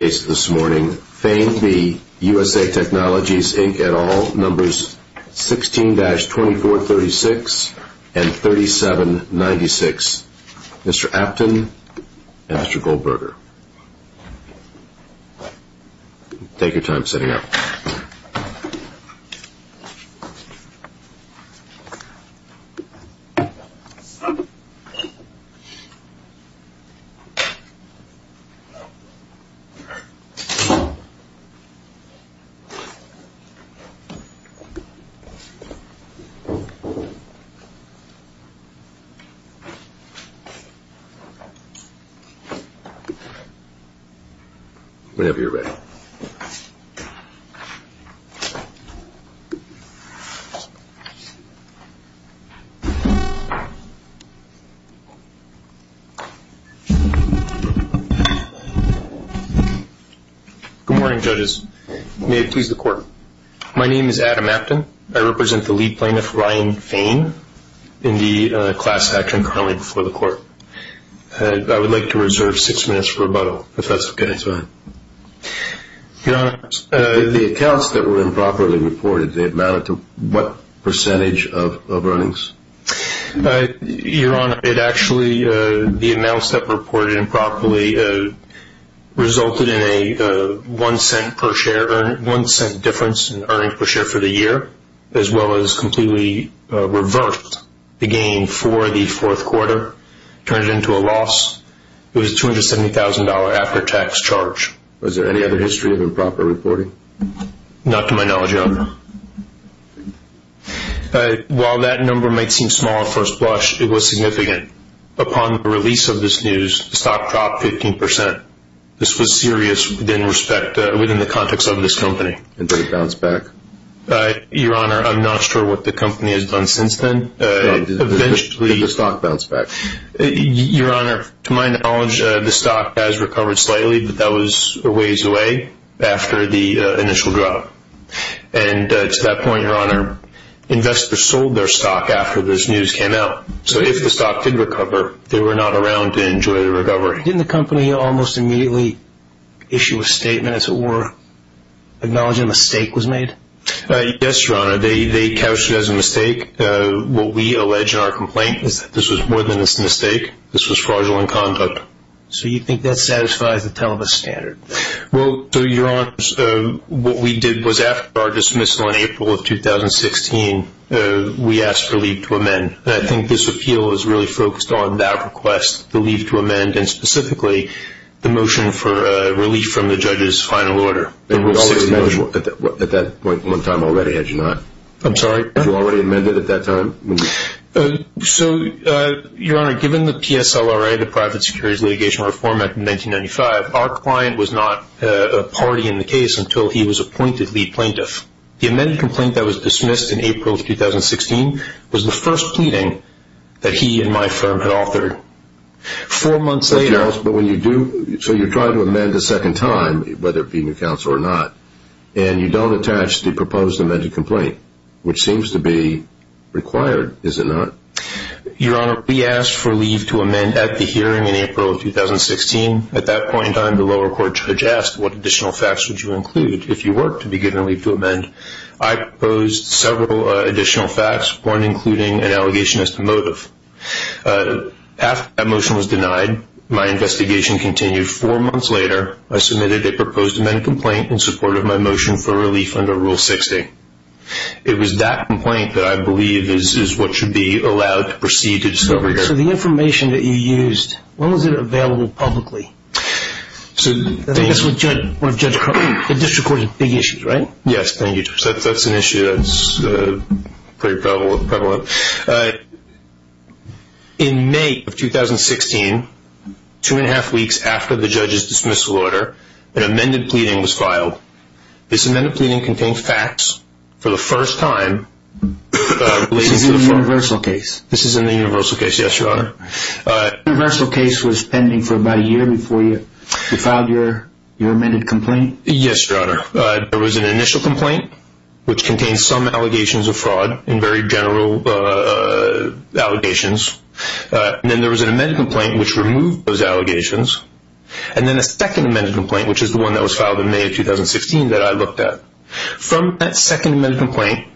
at all, numbers 16-2436 and 3796. Mr. Aptin and Mr. Goldberger. Take your time setting up. Whenever you're ready. Good morning judges. May it please the court. My name is Adam Aptin. I represent the lead plaintiff Ryan Fain in the class action currently before the court. I would like to reserve six minutes for rebuttal, if that's okay. Your Honor, the accounts that were improperly reported, they amounted to what percentage of earnings? Your Honor, it actually, the amounts that were reported improperly resulted in a one cent difference in earnings per share for the year, as well as completely reversed the gain for the fourth quarter, turned it into a loss. It was $270,000 after tax charge. Was there any other history of improper reporting? Not to my knowledge, Your Honor. While that number might seem small at first blush, it was significant. Upon the release of this news, the stock dropped 15%. This was serious within the context of this company. And did it bounce back? Your Honor, I'm not sure what the company has done since then. Did the stock bounce back? Your Honor, to my knowledge, the stock has recovered slightly, but that was a ways away after the initial drop. And to that point, Your Honor, investors sold their stock after this news came out. So if the stock did recover, they were not around to enjoy the recovery. Didn't the company almost immediately issue a statement as it were, acknowledging a mistake was made? Yes, Your Honor. They couched it as a mistake. What we allege in our complaint is that this was more than a mistake. This was fraudulent conduct. So you think that satisfies the telebus standard? Well, Your Honor, what we did was after our dismissal in April of 2016, we asked for leave to amend. And I think this appeal is really focused on that request, the leave to amend, and specifically the motion for relief from the judge's final order. At that point in time, already had you not? I'm sorry? You already amended at that time? So Your Honor, given the PSLRA, the Private Securities Litigation Reform Act of 1995, our client was not a party in the case until he was appointed lead plaintiff. The amended complaint that was dismissed in April of 2016 was the first pleading that he and my firm had authored. Four months later... So you're trying to amend a second time, whether it counts or not, and you don't attach the proposed amended complaint, which seems to be required, is it not? Your Honor, we asked for leave to amend at the hearing in April of 2016. At that point in time, the lower court judge asked, what additional facts would you include if you were to be given leave to amend? I proposed several additional facts, one including an allegation as to motive. After that motion was denied, my investigation continued. Four months later, I submitted a complaint in support of my motion for relief under Rule 60. It was that complaint that I believe is what should be allowed to proceed to discovery court. So the information that you used, when was it available publicly? I guess the district court had big issues, right? Yes, that's an issue that's pretty prevalent. In May of 2016, two and a half weeks after the judge's dismissal order, an amended pleading was filed. This amended pleading contained facts for the first time... This is in the universal case? This is in the universal case, yes, Your Honor. Universal case was pending for about a year before you filed your amended complaint? Yes, Your Honor. There was an initial complaint, which contained some allegations of fraud, in very general allegations. Then there was an amended complaint, which removed those allegations. Then a second amended complaint, which is the one that was filed in May of 2016, that I looked at. From that second amended complaint,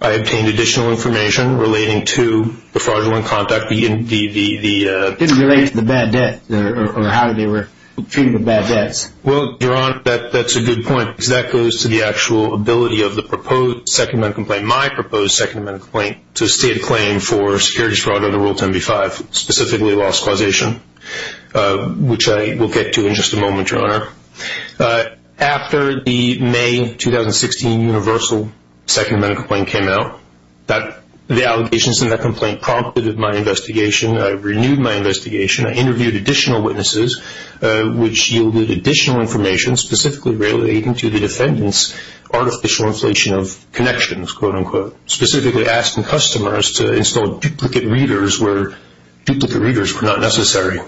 I obtained additional information relating to the fraudulent conduct. It didn't relate to the bad debt, or how they were treated with bad debts. Well, Your Honor, that's a good point, because that goes to the actual ability of the proposed second amended complaint, my proposed second amended complaint, to stay in claim for securities fraud under Rule 10b-5, specifically loss causation, which I will get to in just a moment, Your Honor. After the May 2016 universal second amended complaint came out, the allegations in that complaint prompted my investigation. I renewed my investigation. I interviewed additional witnesses, which yielded additional information, specifically relating to the defendant's artificial inflation of connections, quote-unquote, specifically asking customers to install duplicate readers where duplicate readers were not necessary.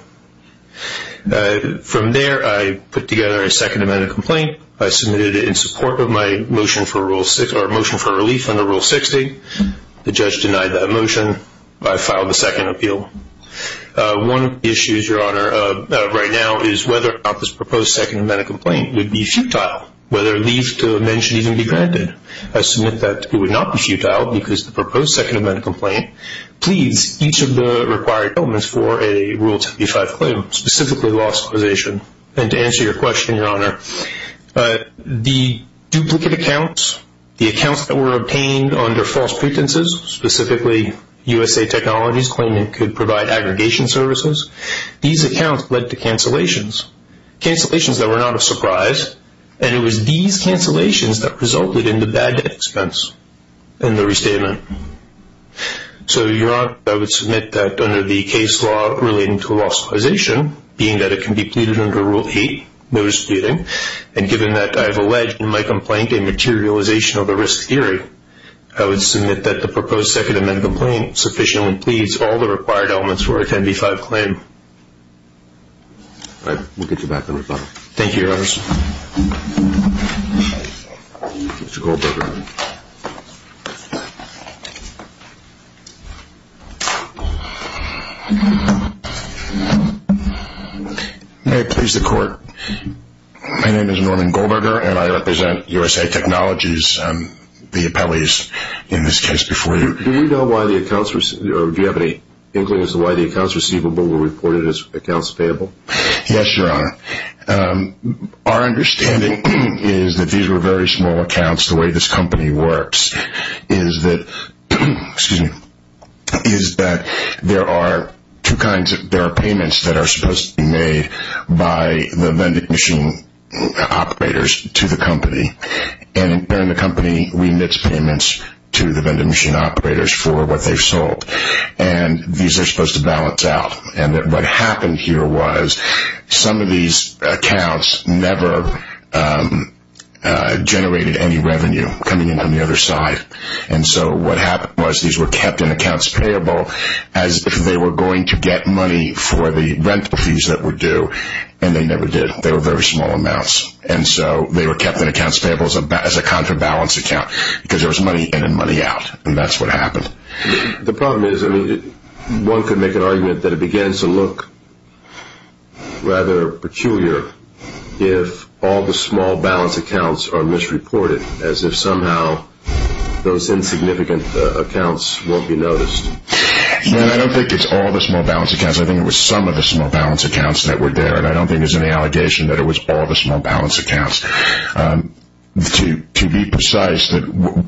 From there, I put together a second amended complaint. I submitted it in support of my motion for a relief under Rule 60. The judge denied that motion. I filed a second appeal. One of the issues, Your Honor, right now is whether or not this proposed second amended complaint would be futile, whether relief to mention even be granted. I submit that it would not be futile, because the proposed second amended complaint pleads each of the required elements for a Rule 10b-5 claim, specifically loss causation. And to answer your question, Your Honor, the duplicate accounts, the accounts that were obtained under false pretenses, specifically USA Technologies claiming it could provide aggregation services, these accounts led to cancellations, cancellations that were not a surprise, and it was these cancellations that resulted in the bad debt expense in the restatement. So, Your Honor, I would submit that under the case law relating to loss causation, being that it can be pleaded under Rule 8, notice pleading, and given that I have alleged in my complaint a materialization of the risk theory, I would submit that the proposed second amended complaint sufficiently pleads all the required elements for a 10b-5 claim. All right. We'll get you back on rebuttal. Thank you, Your Honor. Mr. Goldberger. May it please the Court. My name is Norman Goldberger, and I represent USA Technologies, the appellees, in this case, before you. Do you know why the accounts received, or do you have any inklings as to why the accounts Okay. Okay. Okay. Okay. Okay. Okay. Okay. Okay. Okay. Okay. Okay. Okay. Okay. Okay. Then, did you have any certain statements that I didn't hear coming in that what happened here was some of these accounts never generated any revenue coming in from the other side? And so what happened was these were kept in accounts payable as if they were going to get money for the rental fees that were due, and they never did. They were very small amounts, and so they were kept in accounts payable as a contrabalance account because there was money in and money out, and that's what happened. The problem is, I mean, one could make an argument that it begins to look rather peculiar if all the small balance accounts are misreported as if somehow those insignificant accounts won't be noticed. No, I don't think it's all the small balance accounts. I think it was some of the small balance accounts that were there, and I don't think there's any allegation that it was all the small balance accounts. To be precise, the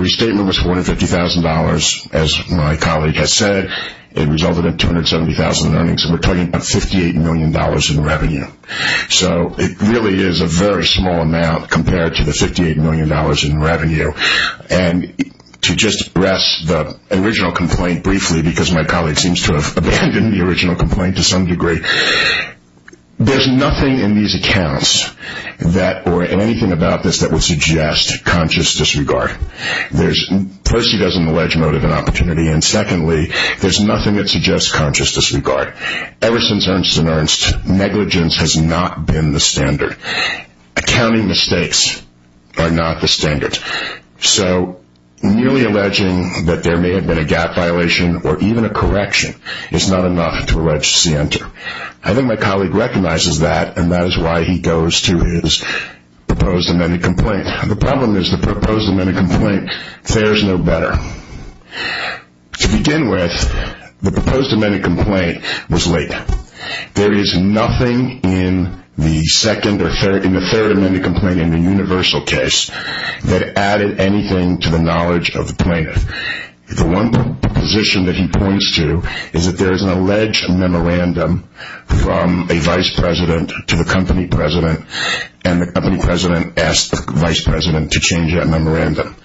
restatement was $450,000, as my colleague has said. It resulted in $270,000 in earnings, and we're talking about $58 million in revenue. So it really is a very small amount compared to the $58 million in revenue, and to just address the original complaint briefly because my colleague seems to have abandoned the original complaint to some degree, there's nothing in these accounts or anything about this that would suggest conscious disregard. First, he doesn't allege motive and opportunity, and secondly, there's nothing that suggests conscious disregard. Ever since Ernst & Ernst, negligence has not been the standard. Accounting mistakes are not the standard. So merely alleging that there may have been a gap violation or even a correction is not enough to allege center. I think my colleague recognizes that, and that is why he goes to his proposed amended complaint. The problem is the proposed amended complaint fares no better. To begin with, the proposed amended complaint was late. There is nothing in the third amended complaint in the universal case that added anything to the knowledge of the plaintiff. The one proposition that he points to is that there is an alleged memorandum from a vice president to the company president, and the company president asked the vice president to change that memorandum.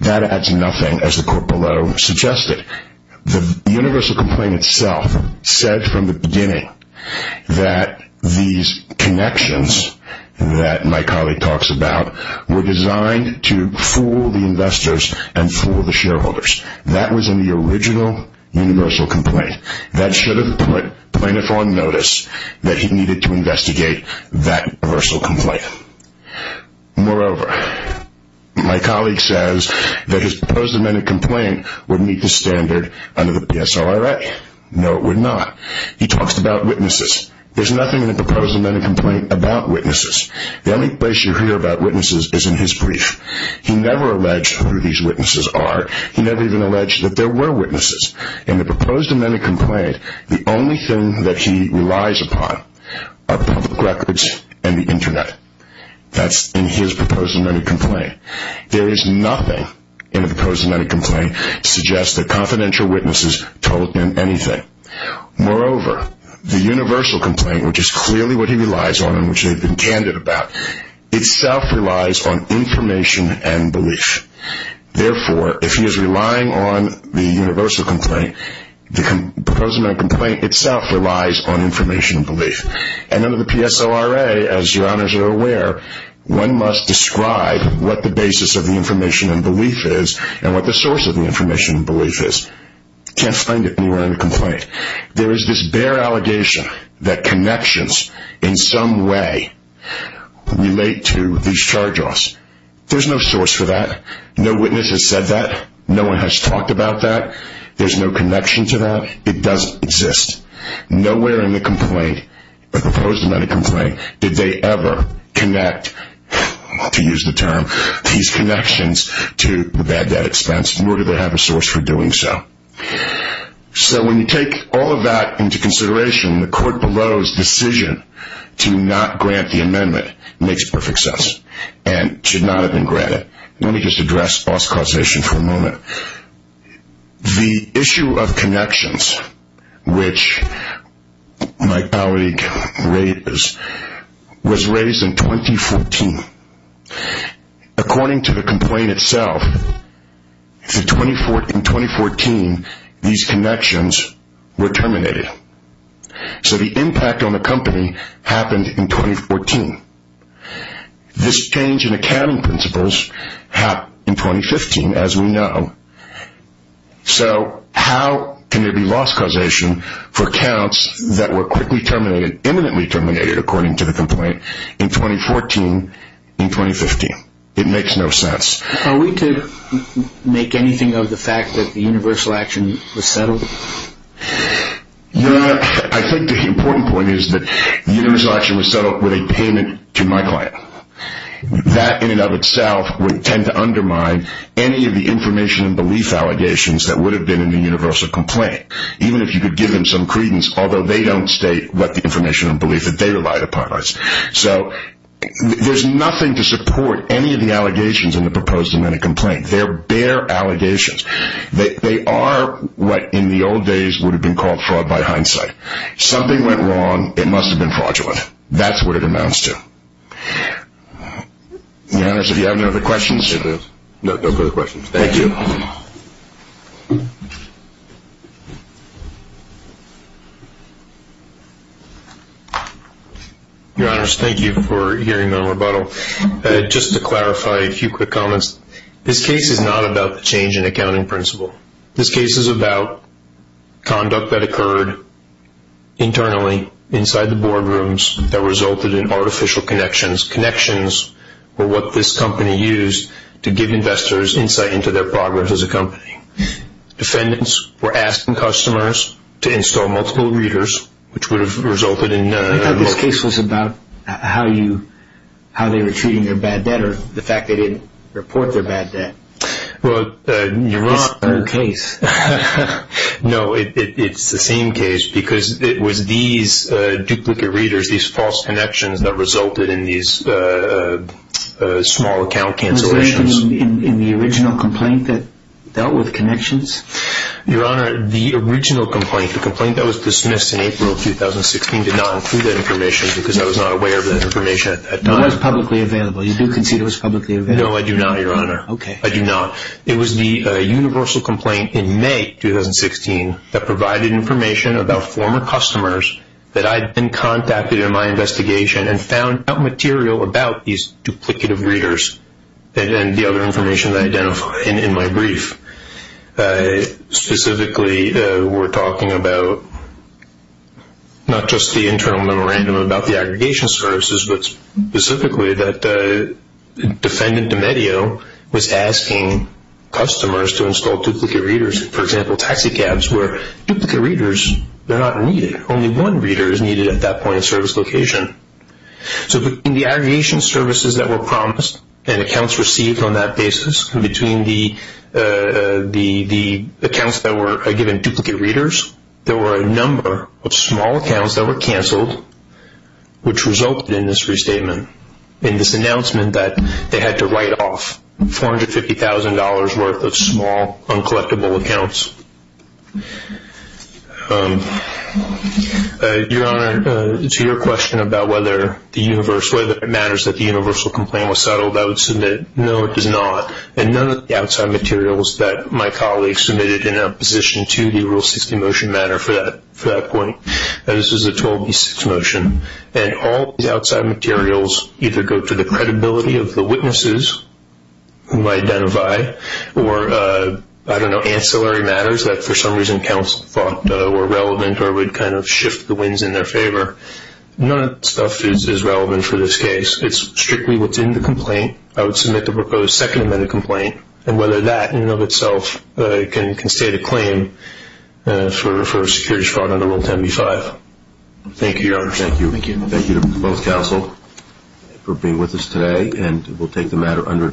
That adds nothing, as the court below suggested. The universal complaint itself said from the beginning that these connections that my colleague talks about were designed to fool the investors and fool the shareholders. That was in the original universal complaint. That should have put plaintiff on notice that he needed to investigate that universal complaint. Moreover, my colleague says that his proposed amended complaint would meet the standard under the PSLRA. No, it would not. He talks about witnesses. There is nothing in the proposed amended complaint about witnesses. The only place you hear about witnesses is in his brief. He never alleged who these witnesses are. He never even alleged that there were witnesses. In the proposed amended complaint, the only thing that he relies upon are public records and the internet. That is in his proposed amended complaint. There is nothing in the proposed amended complaint that suggests that confidential witnesses told him anything. Moreover, the universal complaint, which is clearly what he relies on and which they have been candid about, itself relies on information and belief. Therefore, if he is relying on the universal complaint, the proposed amended complaint itself relies on information and belief. Under the PSLRA, as your honors are aware, one must describe what the basis of the information and belief is and what the source of the information and belief is. You can't find it anywhere in the complaint. There is this bare allegation that connections in some way relate to these charge-offs. There is no source for that. No witness has said that. No one has talked about that. There is no connection to that. It doesn't exist. Nowhere in the complaint, the proposed amended complaint, did they ever connect, to use the term, these connections to the bad debt expense, nor did they have a source for doing so. So when you take all of that into consideration, the court below's decision to not grant the amendment makes perfect sense and should not have been granted. Let me just address boss causation for a moment. The issue of connections, which my colleague raised, was raised in 2014. According to the complaint itself, in 2014, these connections were terminated. So the impact on the company happened in 2014. This change in accounting principles happened in 2015, as we know. So how can there be loss causation for accounts that were quickly terminated, imminently terminated, according to the complaint, in 2014, in 2015? It makes no sense. Are we to make anything of the fact that the universal action was settled? Your Honor, I think the important point is that the universal action was settled with a payment to my client. That in and of itself would tend to undermine any of the information and belief allegations that would have been in the universal complaint, even if you could give them some credence, although they don't state what the information and belief that they relied upon is. So there's nothing to support any of the allegations in the proposed amendment complaint. They're bare allegations. They are what, in the old days, would have been called fraud by hindsight. Something went wrong. It must have been fraudulent. That's what it amounts to. Your Honor, do you have any other questions? No further questions. Thank you. Your Honors, thank you for hearing the rebuttal. Just to clarify a few quick comments. This case is not about the change in accounting principle. This case is about conduct that occurred internally, inside the boardrooms, that resulted in artificial connections. Connections were what this company used to give investors insight into their progress as a company. Defendants were asking customers to install multiple readers, which would have resulted in... I thought this case was about how they were treating their bad debt, or the fact they didn't report their bad debt. Well, Your Honor... It's the same case. No, it's the same case, because it was these duplicate readers, these false connections that resulted in these small account cancellations. Was there anything in the original complaint that dealt with connections? Your Honor, the original complaint, the complaint that was dismissed in April of 2016, did not include that information, because I was not aware of that information at that time. It was publicly available. You do consider it was publicly available? No, I do not, Your Honor. Okay. I do not. It was the universal complaint in May 2016 that provided information about former customers that I'd been contacted in my investigation and found out material about these duplicative readers and the other information that I identified in my brief. Specifically, we're talking about not just the internal memorandum about the aggregation services, but specifically that Defendant D'Amedio was asking customers to install duplicate readers, for example, taxicabs, where duplicate readers, they're not needed. Only one reader is needed at that point in service location. So in the aggregation services that were promised and accounts received on that basis, and between the accounts that were given duplicate readers, there were a number of small accounts that were canceled, which resulted in this restatement, in this announcement that they had to write off $450,000 worth of small uncollectible accounts. Your Honor, to your question about whether it matters that the universal complaint was settled, I would submit no, it is not. And none of the outside materials that my colleagues submitted in opposition to the Rule 60 motion matter for that point. This is a 12B6 motion. And all these outside materials either go to the credibility of the witnesses who identify, or I don't know, ancillary matters that for some reason counsel thought were relevant or would kind of shift the winds in their favor. None of that stuff is relevant for this case. It's strictly what's in the complaint. I would submit the proposed second amendment of the complaint, and whether that in and of itself can state a claim for securities fraud under Rule 10B5. Thank you, Your Honor. Thank you. Thank you to both counsel for being with us today, and we'll take the matter under adjournment.